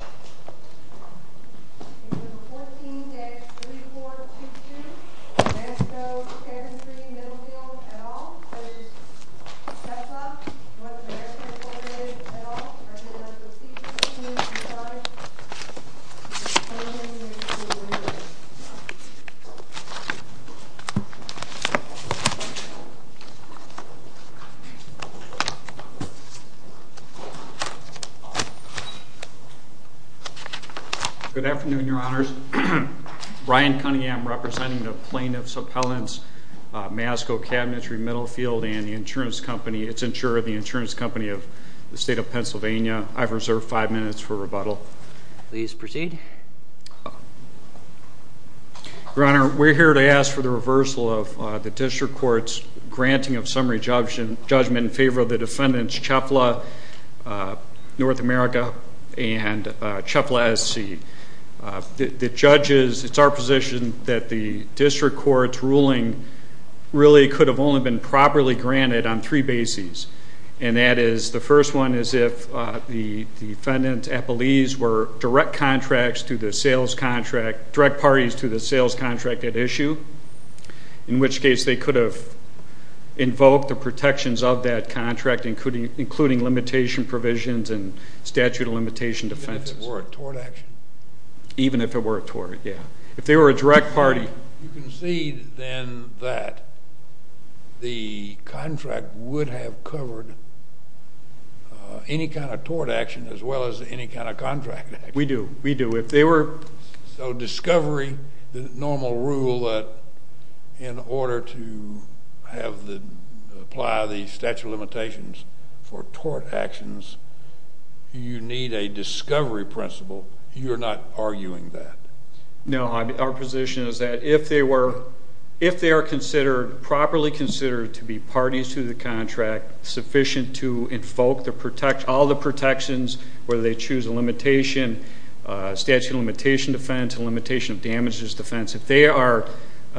14-3422 Nasco Cabinetry Middlefield v. CEFLA North America Good afternoon, your honors. Brian Cunningham representing the plaintiffs' appellants, Nasco Cabinetry Middlefield and the insurance company, its insurer, the insurance company of the state of Pennsylvania. I've reserved five minutes for rebuttal. Please proceed. Your honor, we're here to ask for the reversal of the district court's granting of summary judgment in favor of the defendants, CEFLA North America and CEFLA SC. The judges, it's our position that the district court's ruling really could have only been properly granted on three bases, and that is the first one is if the defendant's appellees were direct parties to the sales contract at issue, in which case they could have invoked the protections of that contract, including limitation provisions and statute of limitation defenses. Even if it were a tort action? Even if it were a tort, yeah. If they were a direct party. You concede then that the contract would have covered any kind of tort action as well as any kind of contract action. We do, we do. So discovery, the normal rule that in order to apply the statute of limitations for tort actions, you need a discovery principle. You're not arguing that? No, our position is that if they are properly considered to be parties to the contract, sufficient to invoke all the protections, whether they choose a limitation, statute of limitation defense, limitation of damages defense, if they are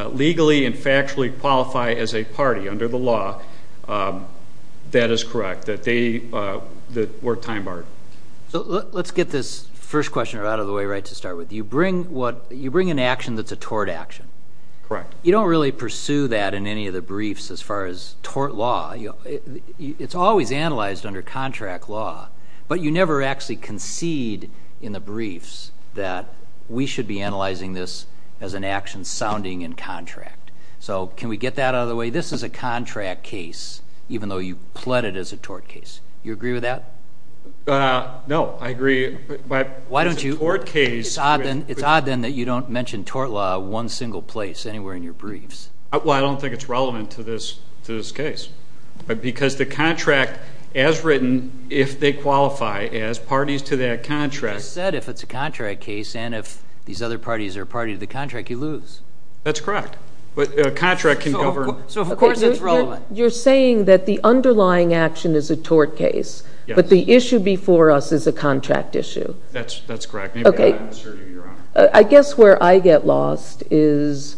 legally and factually qualified as a party under the law, that is correct, that they were time barred. So let's get this first question out of the way right to start with. You bring an action that's a tort action. Correct. You don't really pursue that in any of the briefs as far as tort law. It's always analyzed under contract law, but you never actually concede in the briefs that we should be analyzing this as an action sounding in contract. So can we get that out of the way? This is a contract case, even though you pled it as a tort case. Do you agree with that? No, I agree. Why don't you? It's a tort case. It's odd then that you don't mention tort law one single place anywhere in your briefs. Well, I don't think it's relevant to this case, because the contract as written, if they qualify as parties to that contract. You just said if it's a contract case and if these other parties are a party to the contract, you lose. That's correct. A contract can govern. So, of course, it's relevant. You're saying that the underlying action is a tort case, but the issue before us is a contract issue. That's correct. Okay. I guess where I get lost is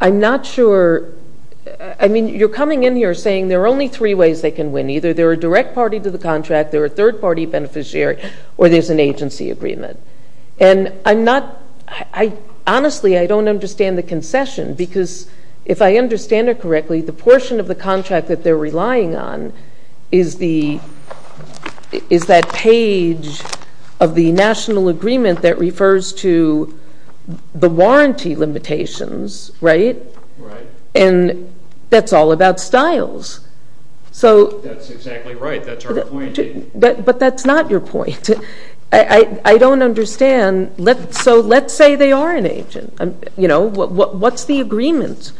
I'm not sure. I mean, you're coming in here saying there are only three ways they can win. Either they're a direct party to the contract, they're a third-party beneficiary, or there's an agency agreement. And honestly, I don't understand the concession, because if I understand it correctly, the portion of the contract that they're relying on is that page of the national agreement that refers to the warranty limitations, right? Right. And that's all about Stiles. That's exactly right. That's our point. But that's not your point. I don't understand. So let's say they are an agent. What's the agreement?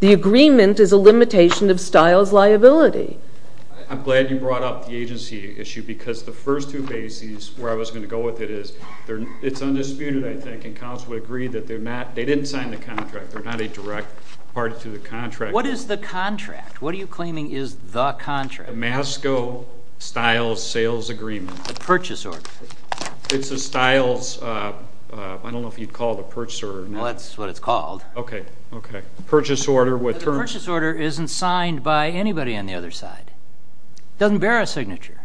The agreement is a limitation of Stiles' liability. I'm glad you brought up the agency issue, because the first two bases where I was going to go with it is it's undisputed, I think, and counsel would agree that they didn't sign the contract. They're not a direct party to the contract. What is the contract? What are you claiming is the contract? The Masco-Stiles sales agreement. The purchase order. It's a Stiles. I don't know if you'd call it a purchase order. Well, that's what it's called. Okay. Okay. Purchase order with terms. The purchase order isn't signed by anybody on the other side. It doesn't bear a signature.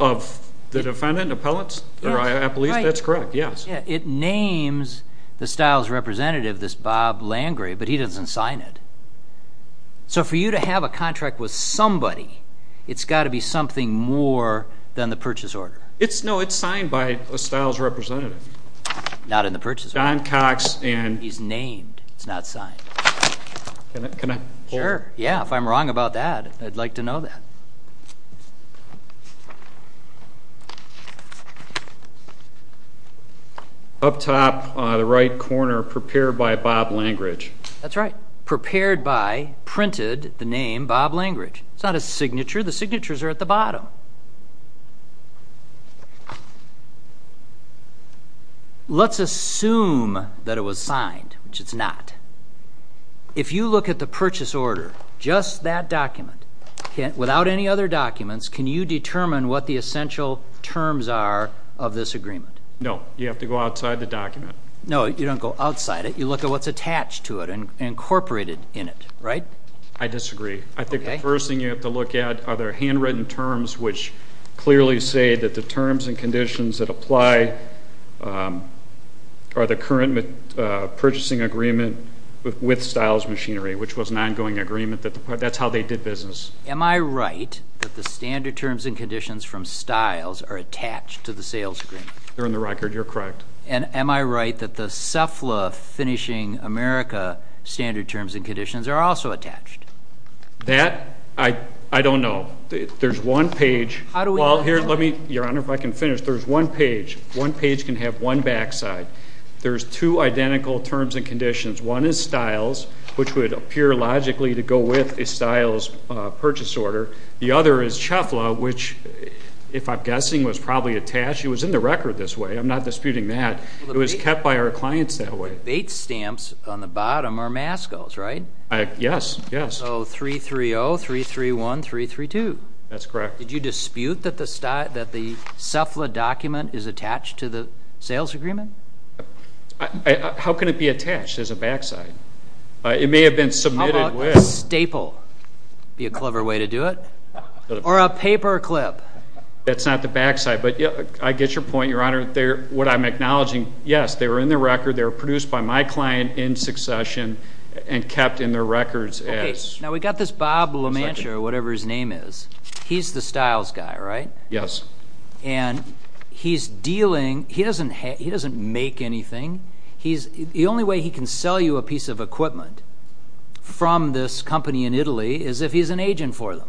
Of the defendant, appellants? Yes. That's correct, yes. It names the Stiles representative, this Bob Langrey, but he doesn't sign it. So for you to have a contract with somebody, it's got to be something more than the purchase order. No, it's signed by a Stiles representative. Not in the purchase order. Don Cox and he's named. It's not signed. Can I pull it? Sure. Yeah, if I'm wrong about that, I'd like to know that. Up top on the right corner, prepared by Bob Langrey. That's right. Prepared by, printed the name Bob Langrey. It's not a signature. The signatures are at the bottom. Let's assume that it was signed, which it's not. If you look at the purchase order, just that document, without any other documents, can you determine what the essential terms are of this agreement? No, you have to go outside the document. No, you don't go outside it. You look at what's attached to it and incorporated in it, right? I disagree. I think the first thing you have to look at are their handwritten terms, which clearly say that the terms and conditions that apply are the current purchasing agreement with Stiles Machinery, which was an ongoing agreement. That's how they did business. Am I right that the standard terms and conditions from Stiles are attached to the sales agreement? They're in the record. You're correct. And am I right that the CEPHLA finishing America standard terms and conditions are also attached? That, I don't know. There's one page. Your Honor, if I can finish. There's one page. One page can have one backside. There's two identical terms and conditions. One is Stiles, which would appear logically to go with a Stiles purchase order. The other is CEPHLA, which, if I'm guessing, was probably attached. It was in the record this way. I'm not disputing that. It was kept by our clients that way. The bait stamps on the bottom are MASCOs, right? Yes, yes. So 330, 331, 332. That's correct. Did you dispute that the CEPHLA document is attached to the sales agreement? How can it be attached as a backside? It may have been submitted with. How about a staple? That would be a clever way to do it. Or a paperclip. That's not the backside. But I get your point, Your Honor. What I'm acknowledging, yes, they were in the record. They were produced by my client in succession and kept in their records as... Okay. Now we've got this Bob LaMancher, or whatever his name is. He's the Stiles guy, right? Yes. And he's dealing... He doesn't make anything. The only way he can sell you a piece of equipment from this company in Italy is if he's an agent for them,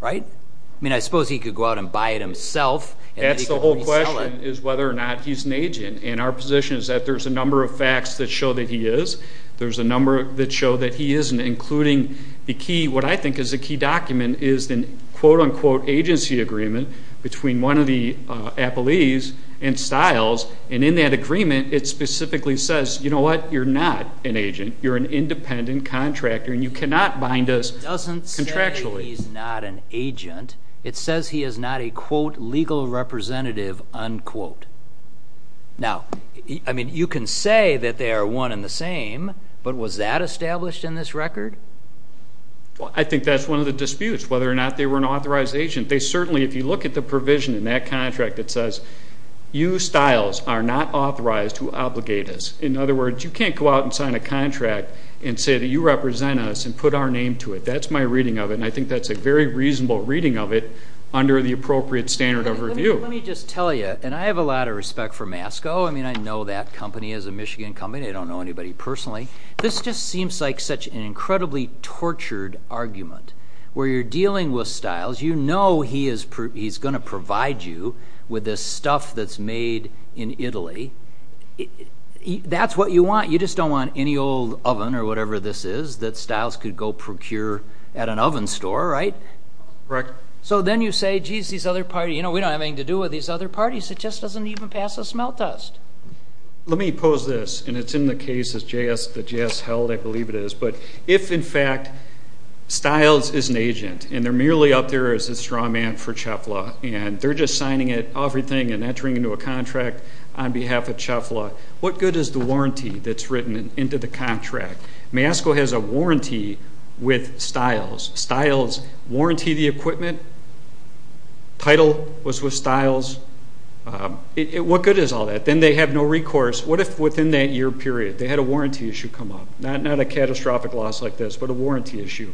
right? I mean, I suppose he could go out and buy it himself. That's the whole question, is whether or not he's an agent. And our position is that there's a number of facts that show that he is. There's a number that show that he isn't, including the key... What I think is the key document is the quote-unquote agency agreement between one of the appellees and Stiles. And in that agreement, it specifically says, you know what, you're not an agent. You're an independent contractor, and you cannot bind us contractually. It doesn't say he's not an agent. It says he is not a, quote, legal representative, unquote. Now, I mean, you can say that they are one and the same, but was that established in this record? I think that's one of the disputes, whether or not they were an authorized agent. They certainly, if you look at the provision in that contract that says, you, Stiles, are not authorized to obligate us. In other words, you can't go out and sign a contract and say that you represent us and put our name to it. That's my reading of it, and I think that's a very reasonable reading of it under the appropriate standard of review. Let me just tell you, and I have a lot of respect for Masco. I mean, I know that company is a Michigan company. I don't know anybody personally. This just seems like such an incredibly tortured argument, where you're dealing with Stiles. You know he's going to provide you with this stuff that's made in Italy. That's what you want. You just don't want any old oven or whatever this is that Stiles could go procure at an oven store, right? Correct. So then you say, geez, these other parties, we don't have anything to do with these other parties. It just doesn't even pass as smelt dust. Let me pose this, and it's in the case that JS held, I believe it is. But if, in fact, Stiles is an agent, and they're merely up there as a straw man for CHEFLA, and they're just signing it, everything, and entering into a contract on behalf of CHEFLA, what good is the warranty that's written into the contract? Masco has a warranty with Stiles. Stiles warranty the equipment. Title was with Stiles. What good is all that? Then they have no recourse. What if within that year period they had a warranty issue come up? Not a catastrophic loss like this, but a warranty issue.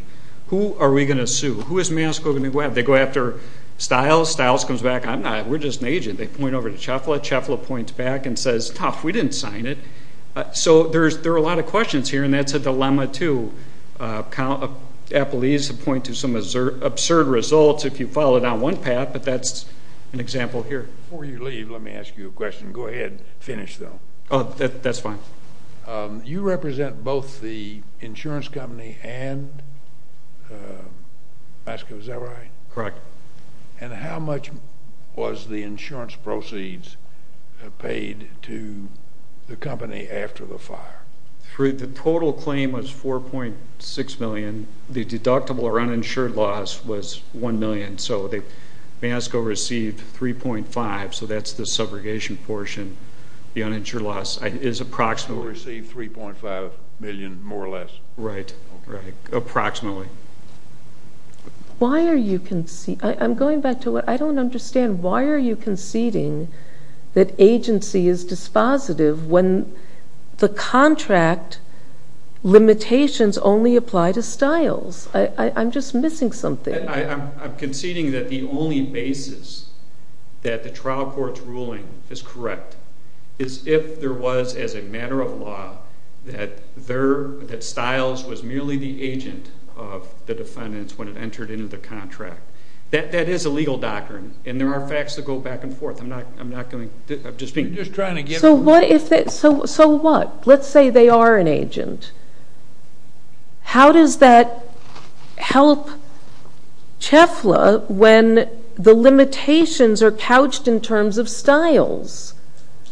Who are we going to sue? Who is Masco going to go after? They go after Stiles. Stiles comes back. I'm not. We're just an agent. They point over to CHEFLA. CHEFLA points back and says, tough, we didn't sign it. So there are a lot of questions here, and that's a dilemma, too. Appellees point to some absurd results if you follow down one path, but that's an example here. Before you leave, let me ask you a question. Go ahead. Finish, though. That's fine. You represent both the insurance company and Masco, is that right? Correct. And how much was the insurance proceeds paid to the company after the fire? The total claim was $4.6 million. The deductible or uninsured loss was $1 million. So Masco received $3.5, so that's the subrogation portion. The uninsured loss is approximately. Received $3.5 million, more or less. Right. Approximately. Why are you conceding? I'm going back to what I don't understand. Why are you conceding that agency is dispositive when the contract limitations only apply to Stiles? I'm just missing something. I'm conceding that the only basis that the trial court's ruling is correct is if there was, as a matter of law, that Stiles was merely the agent of the defendants when it entered into the contract. That is a legal doctrine, and there are facts that go back and forth. I'm not going to. I'm just trying to get. So what? Let's say they are an agent. How does that help CHEFLA when the limitations are couched in terms of Stiles?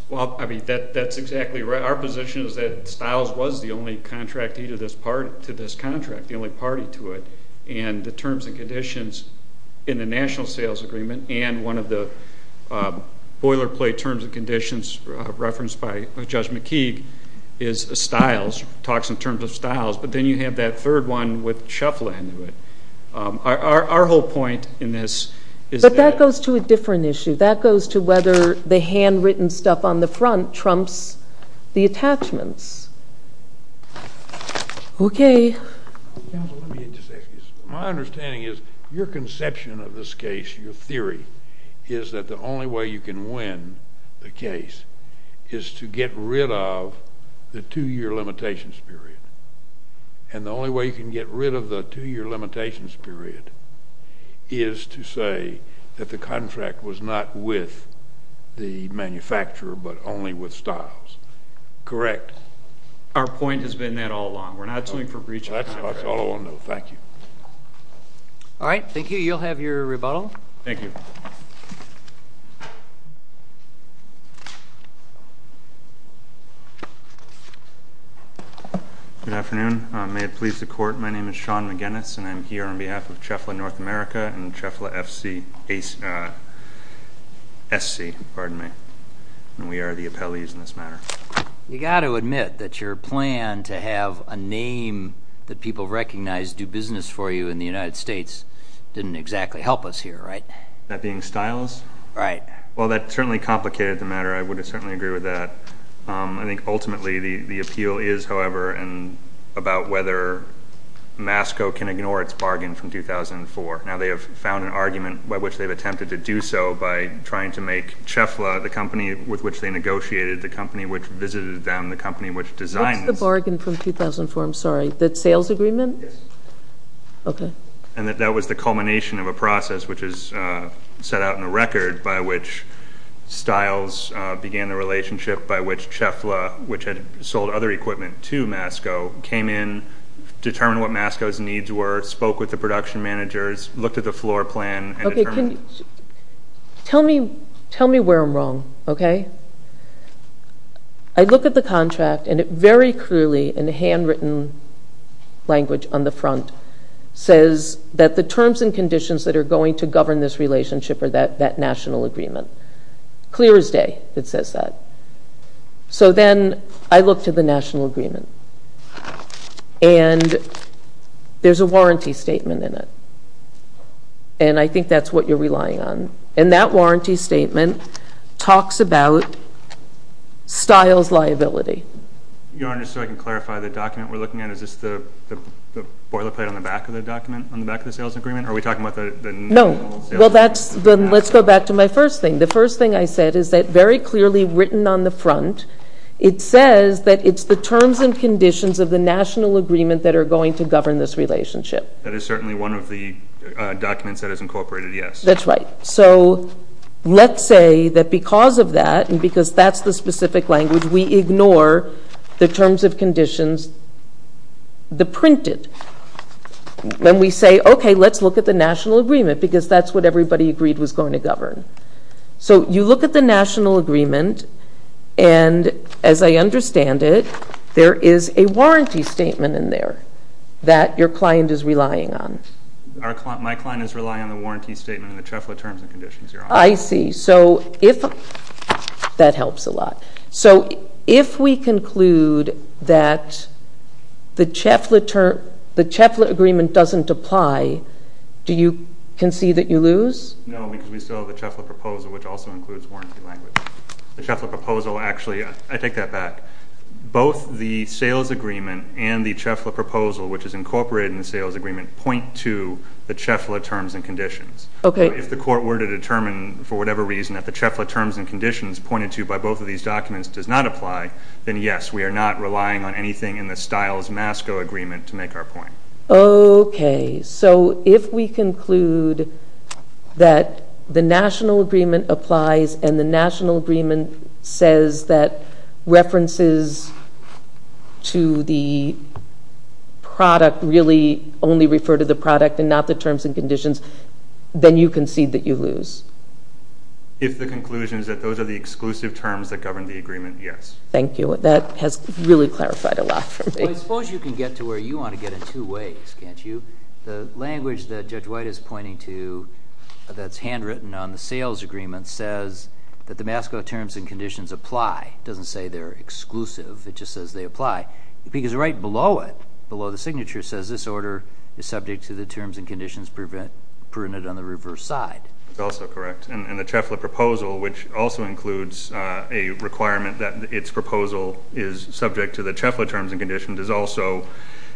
Well, I mean, that's exactly right. Our position is that Stiles was the only contractee to this contract, the only party to it. And the terms and conditions in the National Sales Agreement and one of the boilerplate terms and conditions referenced by Judge McKeague is Stiles, talks in terms of Stiles. But then you have that third one with CHEFLA into it. Our whole point in this is that. But that goes to a different issue. That goes to whether the handwritten stuff on the front trumps the attachments. Okay. Counsel, let me just ask you this. My understanding is your conception of this case, your theory, is that the only way you can win the case is to get rid of the two-year limitations period. And the only way you can get rid of the two-year limitations period is to say that the contract was not with the manufacturer but only with Stiles. Correct? Our point has been that all along. We're not suing for breach of contract. That's all I want to know. Thank you. All right. Thank you. Counsel, you'll have your rebuttal. Thank you. Good afternoon. May it please the Court, my name is Sean McGinnis, and I'm here on behalf of CHEFLA North America and CHEFLA SC. Pardon me. And we are the appellees in this matter. You've got to admit that your plan to have a name that people recognize do business for you in the United States didn't exactly help us here, right? That being Stiles? Right. Well, that certainly complicated the matter. I would certainly agree with that. I think ultimately the appeal is, however, about whether MASCO can ignore its bargain from 2004. Now, they have found an argument by which they've attempted to do so by trying to make CHEFLA the company with which they negotiated, the company which visited them, the company which designed this. What's the bargain from 2004? I'm sorry. The sales agreement? Yes. Okay. And that that was the culmination of a process which is set out in the record by which Stiles began a relationship by which CHEFLA, which had sold other equipment to MASCO, came in, determined what MASCO's needs were, spoke with the production managers, looked at the floor plan, and determined. Okay. Tell me where I'm wrong, okay? I look at the contract, and it very clearly, in the handwritten language on the front, says that the terms and conditions that are going to govern this relationship are that national agreement. Clear as day, it says that. So then I look to the national agreement, and there's a warranty statement in it, and I think that's what you're relying on. And that warranty statement talks about Stiles' liability. Your Honor, just so I can clarify, the document we're looking at, is this the boilerplate on the back of the document, on the back of the sales agreement? Are we talking about the national sales agreement? No. Well, let's go back to my first thing. The first thing I said is that very clearly written on the front, it says that it's the terms and conditions of the national agreement that are going to govern this relationship. That is certainly one of the documents that is incorporated, yes. That's right. So let's say that because of that, and because that's the specific language, we ignore the terms of conditions, the printed. Then we say, okay, let's look at the national agreement, because that's what everybody agreed was going to govern. So you look at the national agreement, and as I understand it, there is a warranty statement in there that your client is relying on. My client is relying on the warranty statement and the CHEFLA terms and conditions, Your Honor. I see. That helps a lot. So if we conclude that the CHEFLA agreement doesn't apply, do you concede that you lose? No, because we still have the CHEFLA proposal, which also includes warranty language. The CHEFLA proposal, actually, I take that back. Both the sales agreement and the CHEFLA proposal, which is incorporated in the sales agreement, point to the CHEFLA terms and conditions. Okay. If the court were to determine, for whatever reason, that the CHEFLA terms and conditions pointed to by both of these documents does not apply, then yes, we are not relying on anything in the Stiles-Masco agreement to make our point. Okay. So if we conclude that the national agreement applies and the national agreement says that references to the product really only refer to the product and not the terms and conditions, then you concede that you lose? If the conclusion is that those are the exclusive terms that govern the agreement, yes. Thank you. That has really clarified a lot for me. I suppose you can get to where you want to get in two ways, can't you? The language that Judge White is pointing to that's handwritten on the sales agreement says that the MASCO terms and conditions apply. It doesn't say they're exclusive. It just says they apply. Because right below it, below the signature, says this order is subject to the terms and conditions prudent on the reverse side. That's also correct. And the CHEFLA proposal, which also includes a requirement that its proposal is subject to the CHEFLA terms and conditions, is also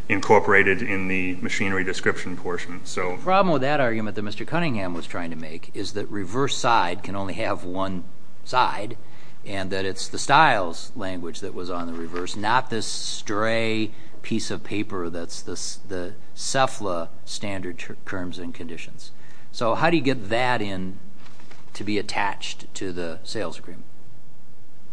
incorporated in the machinery description portion. The problem with that argument that Mr. Cunningham was trying to make is that reverse side can only have one side and that it's the styles language that was on the reverse, not this stray piece of paper that's the CHEFLA standard terms and conditions. So how do you get that in to be attached to the sales agreement?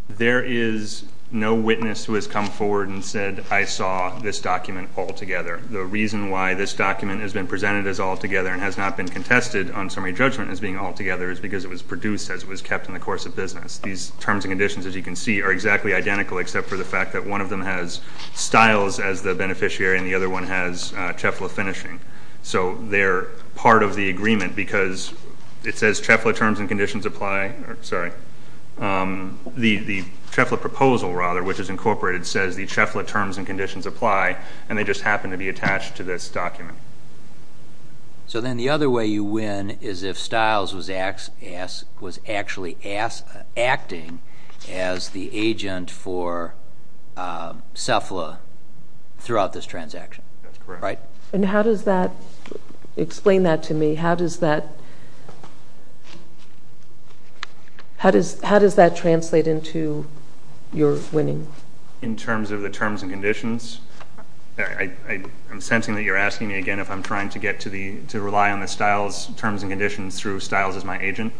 There is no witness who has come forward and said, I saw this document altogether. The reason why this document has been presented as altogether and has not been contested on summary judgment as being altogether is because it was produced as it was kept in the course of business. These terms and conditions, as you can see, are exactly identical except for the fact that one of them has styles as the beneficiary and the other one has CHEFLA finishing. So they're part of the agreement because it says CHEFLA terms and conditions apply. The CHEFLA proposal, rather, which is incorporated, says the CHEFLA terms and conditions apply and they just happen to be attached to this document. So then the other way you win is if styles was actually acting as the agent for CHEFLA throughout this transaction. That's correct. How does that translate into your winning? In terms of the terms and conditions? I'm sensing that you're asking me again if I'm trying to rely on the styles, terms and conditions, through styles as my agent.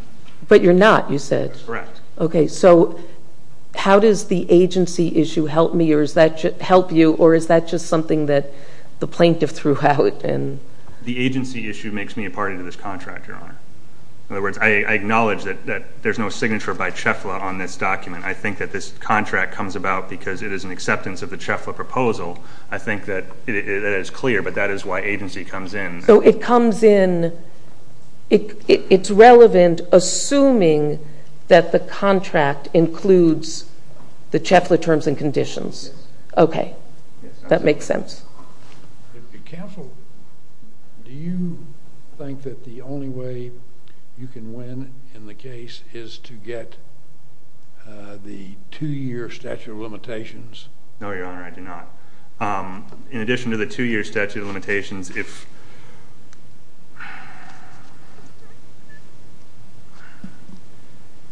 But you're not, you said. That's correct. Okay. So how does the agency issue help you or is that just something that the plaintiff threw out? The agency issue makes me a party to this contract, Your Honor. In other words, I acknowledge that there's no signature by CHEFLA on this document. I think that this contract comes about because it is an acceptance of the CHEFLA proposal. I think that it is clear, but that is why agency comes in. So it comes in, it's relevant, assuming that the contract includes the CHEFLA terms and conditions. Okay. That makes sense. Counsel, do you think that the only way you can win in the case is to get the two-year statute of limitations? No, Your Honor, I do not. In addition to the two-year statute of limitations, if...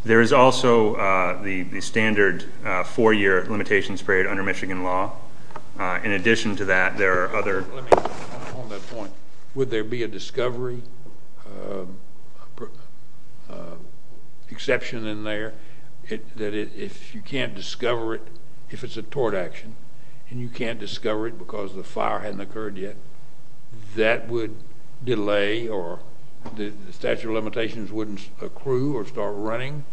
There is also the standard four-year limitations period under Michigan law. In addition to that, there are other... On that point, would there be a discovery exception in there that if you can't discover it, if it's a tort action, and you can't discover it because the fire hadn't occurred yet, that would delay or the statute of limitations wouldn't accrue or start running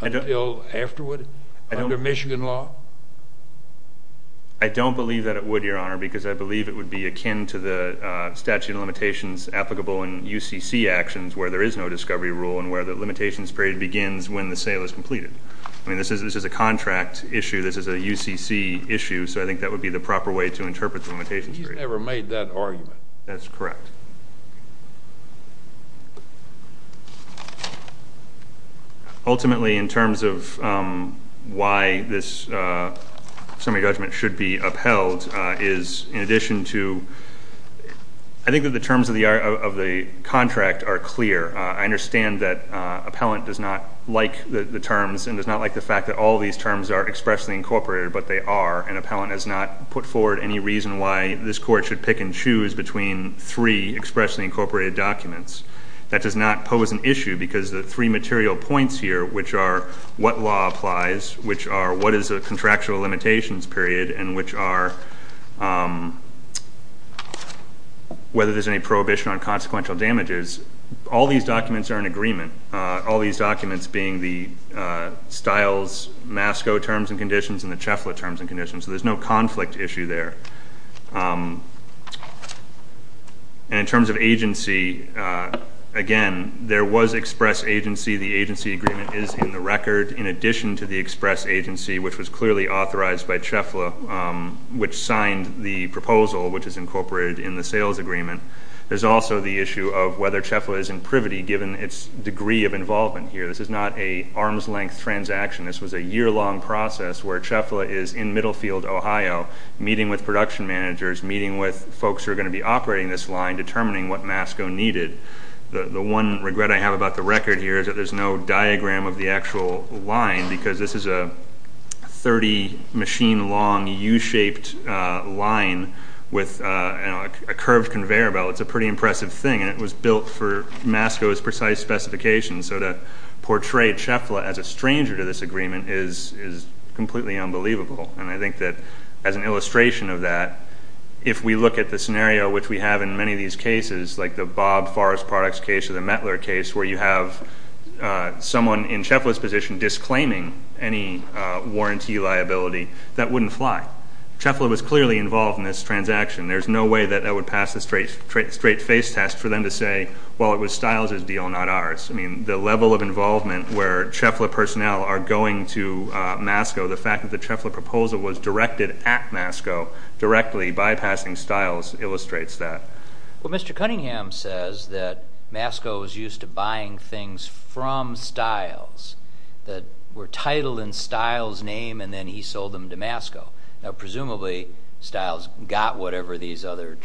until afterward under Michigan law? I don't believe that it would, Your Honor, because I believe it would be akin to the statute of limitations applicable in UCC actions where there is no discovery rule and where the limitations period begins when the sale is completed. I mean, this is a contract issue. This is a UCC issue, so I think that would be the proper way to interpret the limitations period. He's never made that argument. That's correct. Ultimately, in terms of why this summary judgment should be upheld is in addition to... I think that the terms of the contract are clear. I understand that appellant does not like the terms and does not like the fact that all these terms are expressly incorporated, but they are, and appellant has not put forward any reason why this court should pick and choose between three expressly incorporated documents. That does not pose an issue because the three material points here, which are what law applies, which are what is a contractual limitations period, and which are whether there's any prohibition on consequential damages, all these documents are in agreement, all these documents being the Stiles-Masco terms and conditions and the Chafla terms and conditions, so there's no conflict issue there. In terms of agency, again, there was express agency. The agency agreement is in the record in addition to the express agency, which was clearly authorized by Chafla, which signed the proposal, which is incorporated in the sales agreement. There's also the issue of whether Chafla is in privity, given its degree of involvement here. This is not an arm's-length transaction. This was a year-long process where Chafla is in Middlefield, Ohio, meeting with production managers, meeting with folks who are going to be operating this line, determining what Masco needed. The one regret I have about the record here is that there's no diagram of the actual line because this is a 30-machine-long U-shaped line with a curved conveyor belt. It's a pretty impressive thing, and it was built for Masco's precise specifications, so to portray Chafla as a stranger to this agreement is completely unbelievable. And I think that as an illustration of that, if we look at the scenario which we have in many of these cases, like the Bob Forrest Products case or the Mettler case, where you have someone in Chafla's position disclaiming any warranty liability, that wouldn't fly. Chafla was clearly involved in this transaction. There's no way that that would pass the straight-face test for them to say, well, it was Stiles' deal, not ours. I mean, the level of involvement where Chafla personnel are going to Masco, the fact that the Chafla proposal was directed at Masco, directly bypassing Stiles, illustrates that. Well, Mr. Cunningham says that Masco was used to buying things from Stiles that were titled in Stiles' name, and then he sold them to Masco. Now, presumably Stiles got whatever these other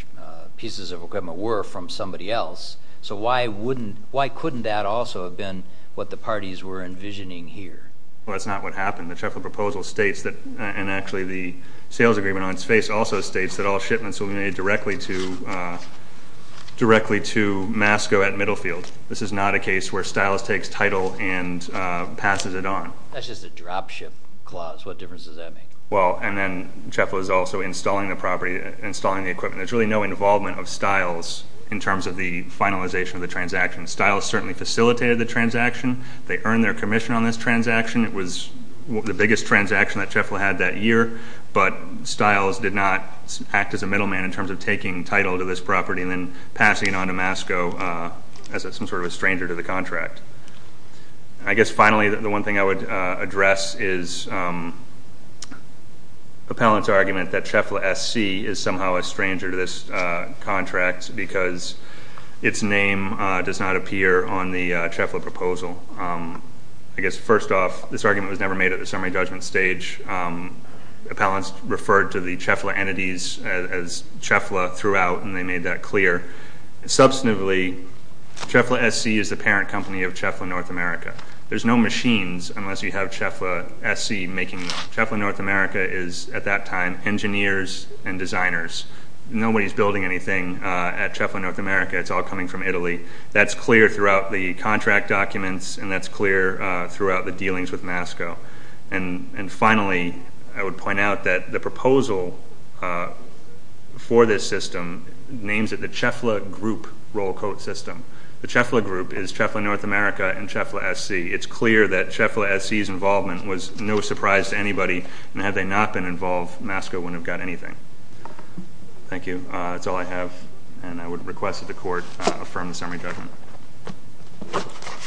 pieces of equipment were from somebody else, so why couldn't that also have been what the parties were envisioning here? Well, that's not what happened. The Chafla proposal states that, and actually the sales agreement on its face also states, that all shipments will be made directly to Masco at Middlefield. This is not a case where Stiles takes title and passes it on. That's just a dropship clause. What difference does that make? Well, and then Chafla is also installing the property, installing the equipment. There's really no involvement of Stiles in terms of the finalization of the transaction. Stiles certainly facilitated the transaction. They earned their commission on this transaction. It was the biggest transaction that Chafla had that year, but Stiles did not act as a middleman in terms of taking title to this property and then passing it on to Masco as some sort of a stranger to the contract. I guess finally the one thing I would address is Appellant's argument that Chafla SC is somehow a stranger to this contract because its name does not appear on the Chafla proposal. I guess first off, this argument was never made at the summary judgment stage. Appellants referred to the Chafla entities as Chafla throughout, and they made that clear. Substantively, Chafla SC is the parent company of Chafla North America. There's no machines unless you have Chafla SC making them. Chafla North America is at that time engineers and designers. Nobody's building anything at Chafla North America. It's all coming from Italy. That's clear throughout the contract documents, and that's clear throughout the dealings with Masco. And finally, I would point out that the proposal for this system names it the Chafla Group roll-quote system. The Chafla Group is Chafla North America and Chafla SC. It's clear that Chafla SC's involvement was no surprise to anybody, and had they not been involved, Masco wouldn't have got anything. Thank you. That's all I have, and I would request that the Court affirm the summary judgment.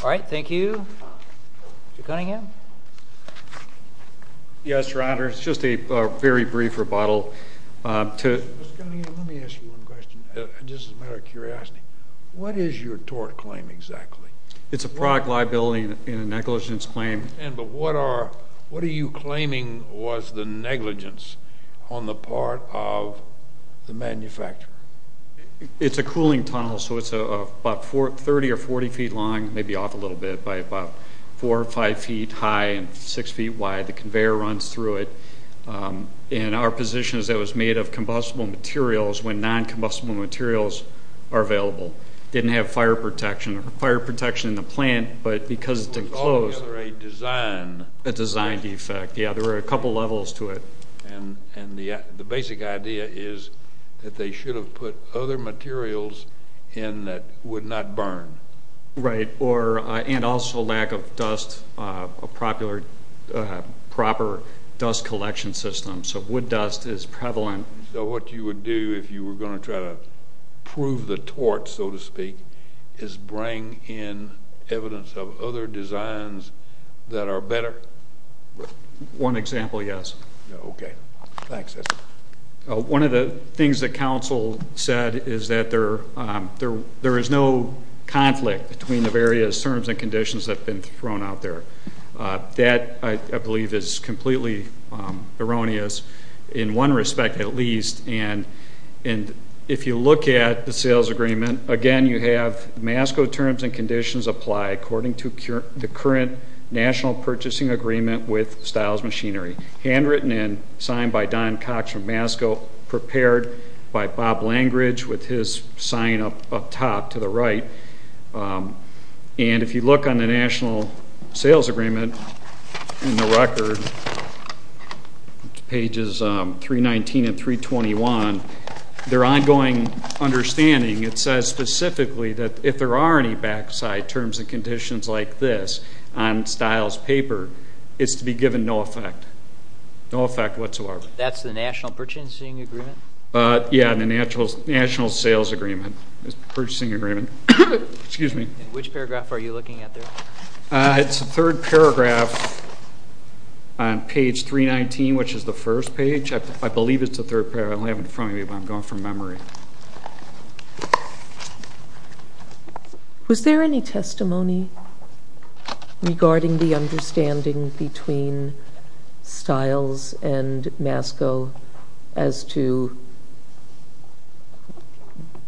All right, thank you. Mr. Cunningham? Yes, Your Honor. It's just a very brief rebuttal. Mr. Cunningham, let me ask you one question, just as a matter of curiosity. What is your tort claim exactly? It's a product liability and a negligence claim. I understand, but what are you claiming was the negligence on the part of the manufacturer? It's a cooling tunnel, so it's about 30 or 40 feet long, maybe off a little bit, by about four or five feet high and six feet wide. The conveyor runs through it. And our position is that it was made of combustible materials when noncombustible materials are available. It didn't have fire protection in the plant, but because it's enclosed. It was altogether a design defect. Yeah, there were a couple levels to it. The basic idea is that they should have put other materials in that would not burn. Right, and also lack of dust, a proper dust collection system. So wood dust is prevalent. So what you would do if you were going to try to prove the tort, so to speak, is bring in evidence of other designs that are better? One example, yes. Okay, thanks. One of the things that counsel said is that there is no conflict between the various terms and conditions that have been thrown out there. That, I believe, is completely erroneous in one respect at least. And if you look at the sales agreement, again, you have MASCO terms and conditions apply according to the current national purchasing agreement with Stiles Machinery, handwritten and signed by Don Cox from MASCO, prepared by Bob Langridge with his sign up top to the right. And if you look on the national sales agreement in the record, pages 319 and 321, their ongoing understanding, it says specifically that if there are any backside terms and conditions like this on Stiles' paper, it's to be given no effect, no effect whatsoever. That's the national purchasing agreement? Yeah, the national sales agreement, purchasing agreement. Which paragraph are you looking at there? It's the third paragraph on page 319, which is the first page. I believe it's the third paragraph. I don't have it in front of me, but I'm going from memory. Was there any testimony regarding the understanding between Stiles and MASCO as to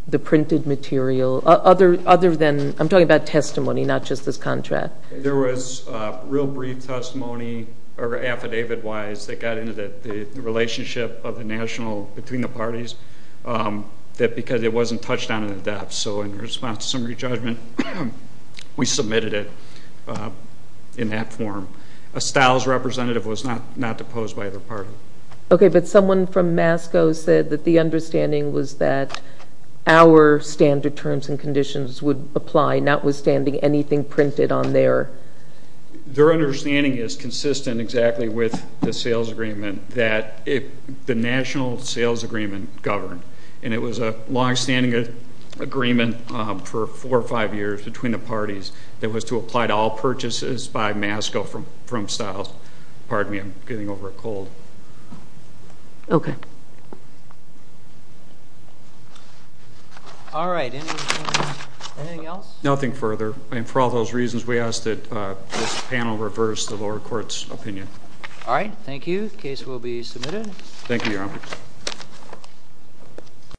the printed material? Other than, I'm talking about testimony, not just this contract. There was real brief testimony affidavit-wise that got into the relationship of the national between the parties because it wasn't touched on in depth. So in response to summary judgment, we submitted it in that form. A Stiles representative was not deposed by either party. Okay, but someone from MASCO said that the understanding was that our standard terms and conditions would apply, notwithstanding anything printed on there. Their understanding is consistent exactly with the sales agreement that the national sales agreement governed, and it was a longstanding agreement for four or five years between the parties that was to apply to all purchases by MASCO from Stiles. Pardon me, I'm getting over a cold. Okay. All right, anything else? Nothing further, and for all those reasons, we ask that this panel reverse the lower court's opinion. All right, thank you. The case will be submitted. Thank you, Your Honor.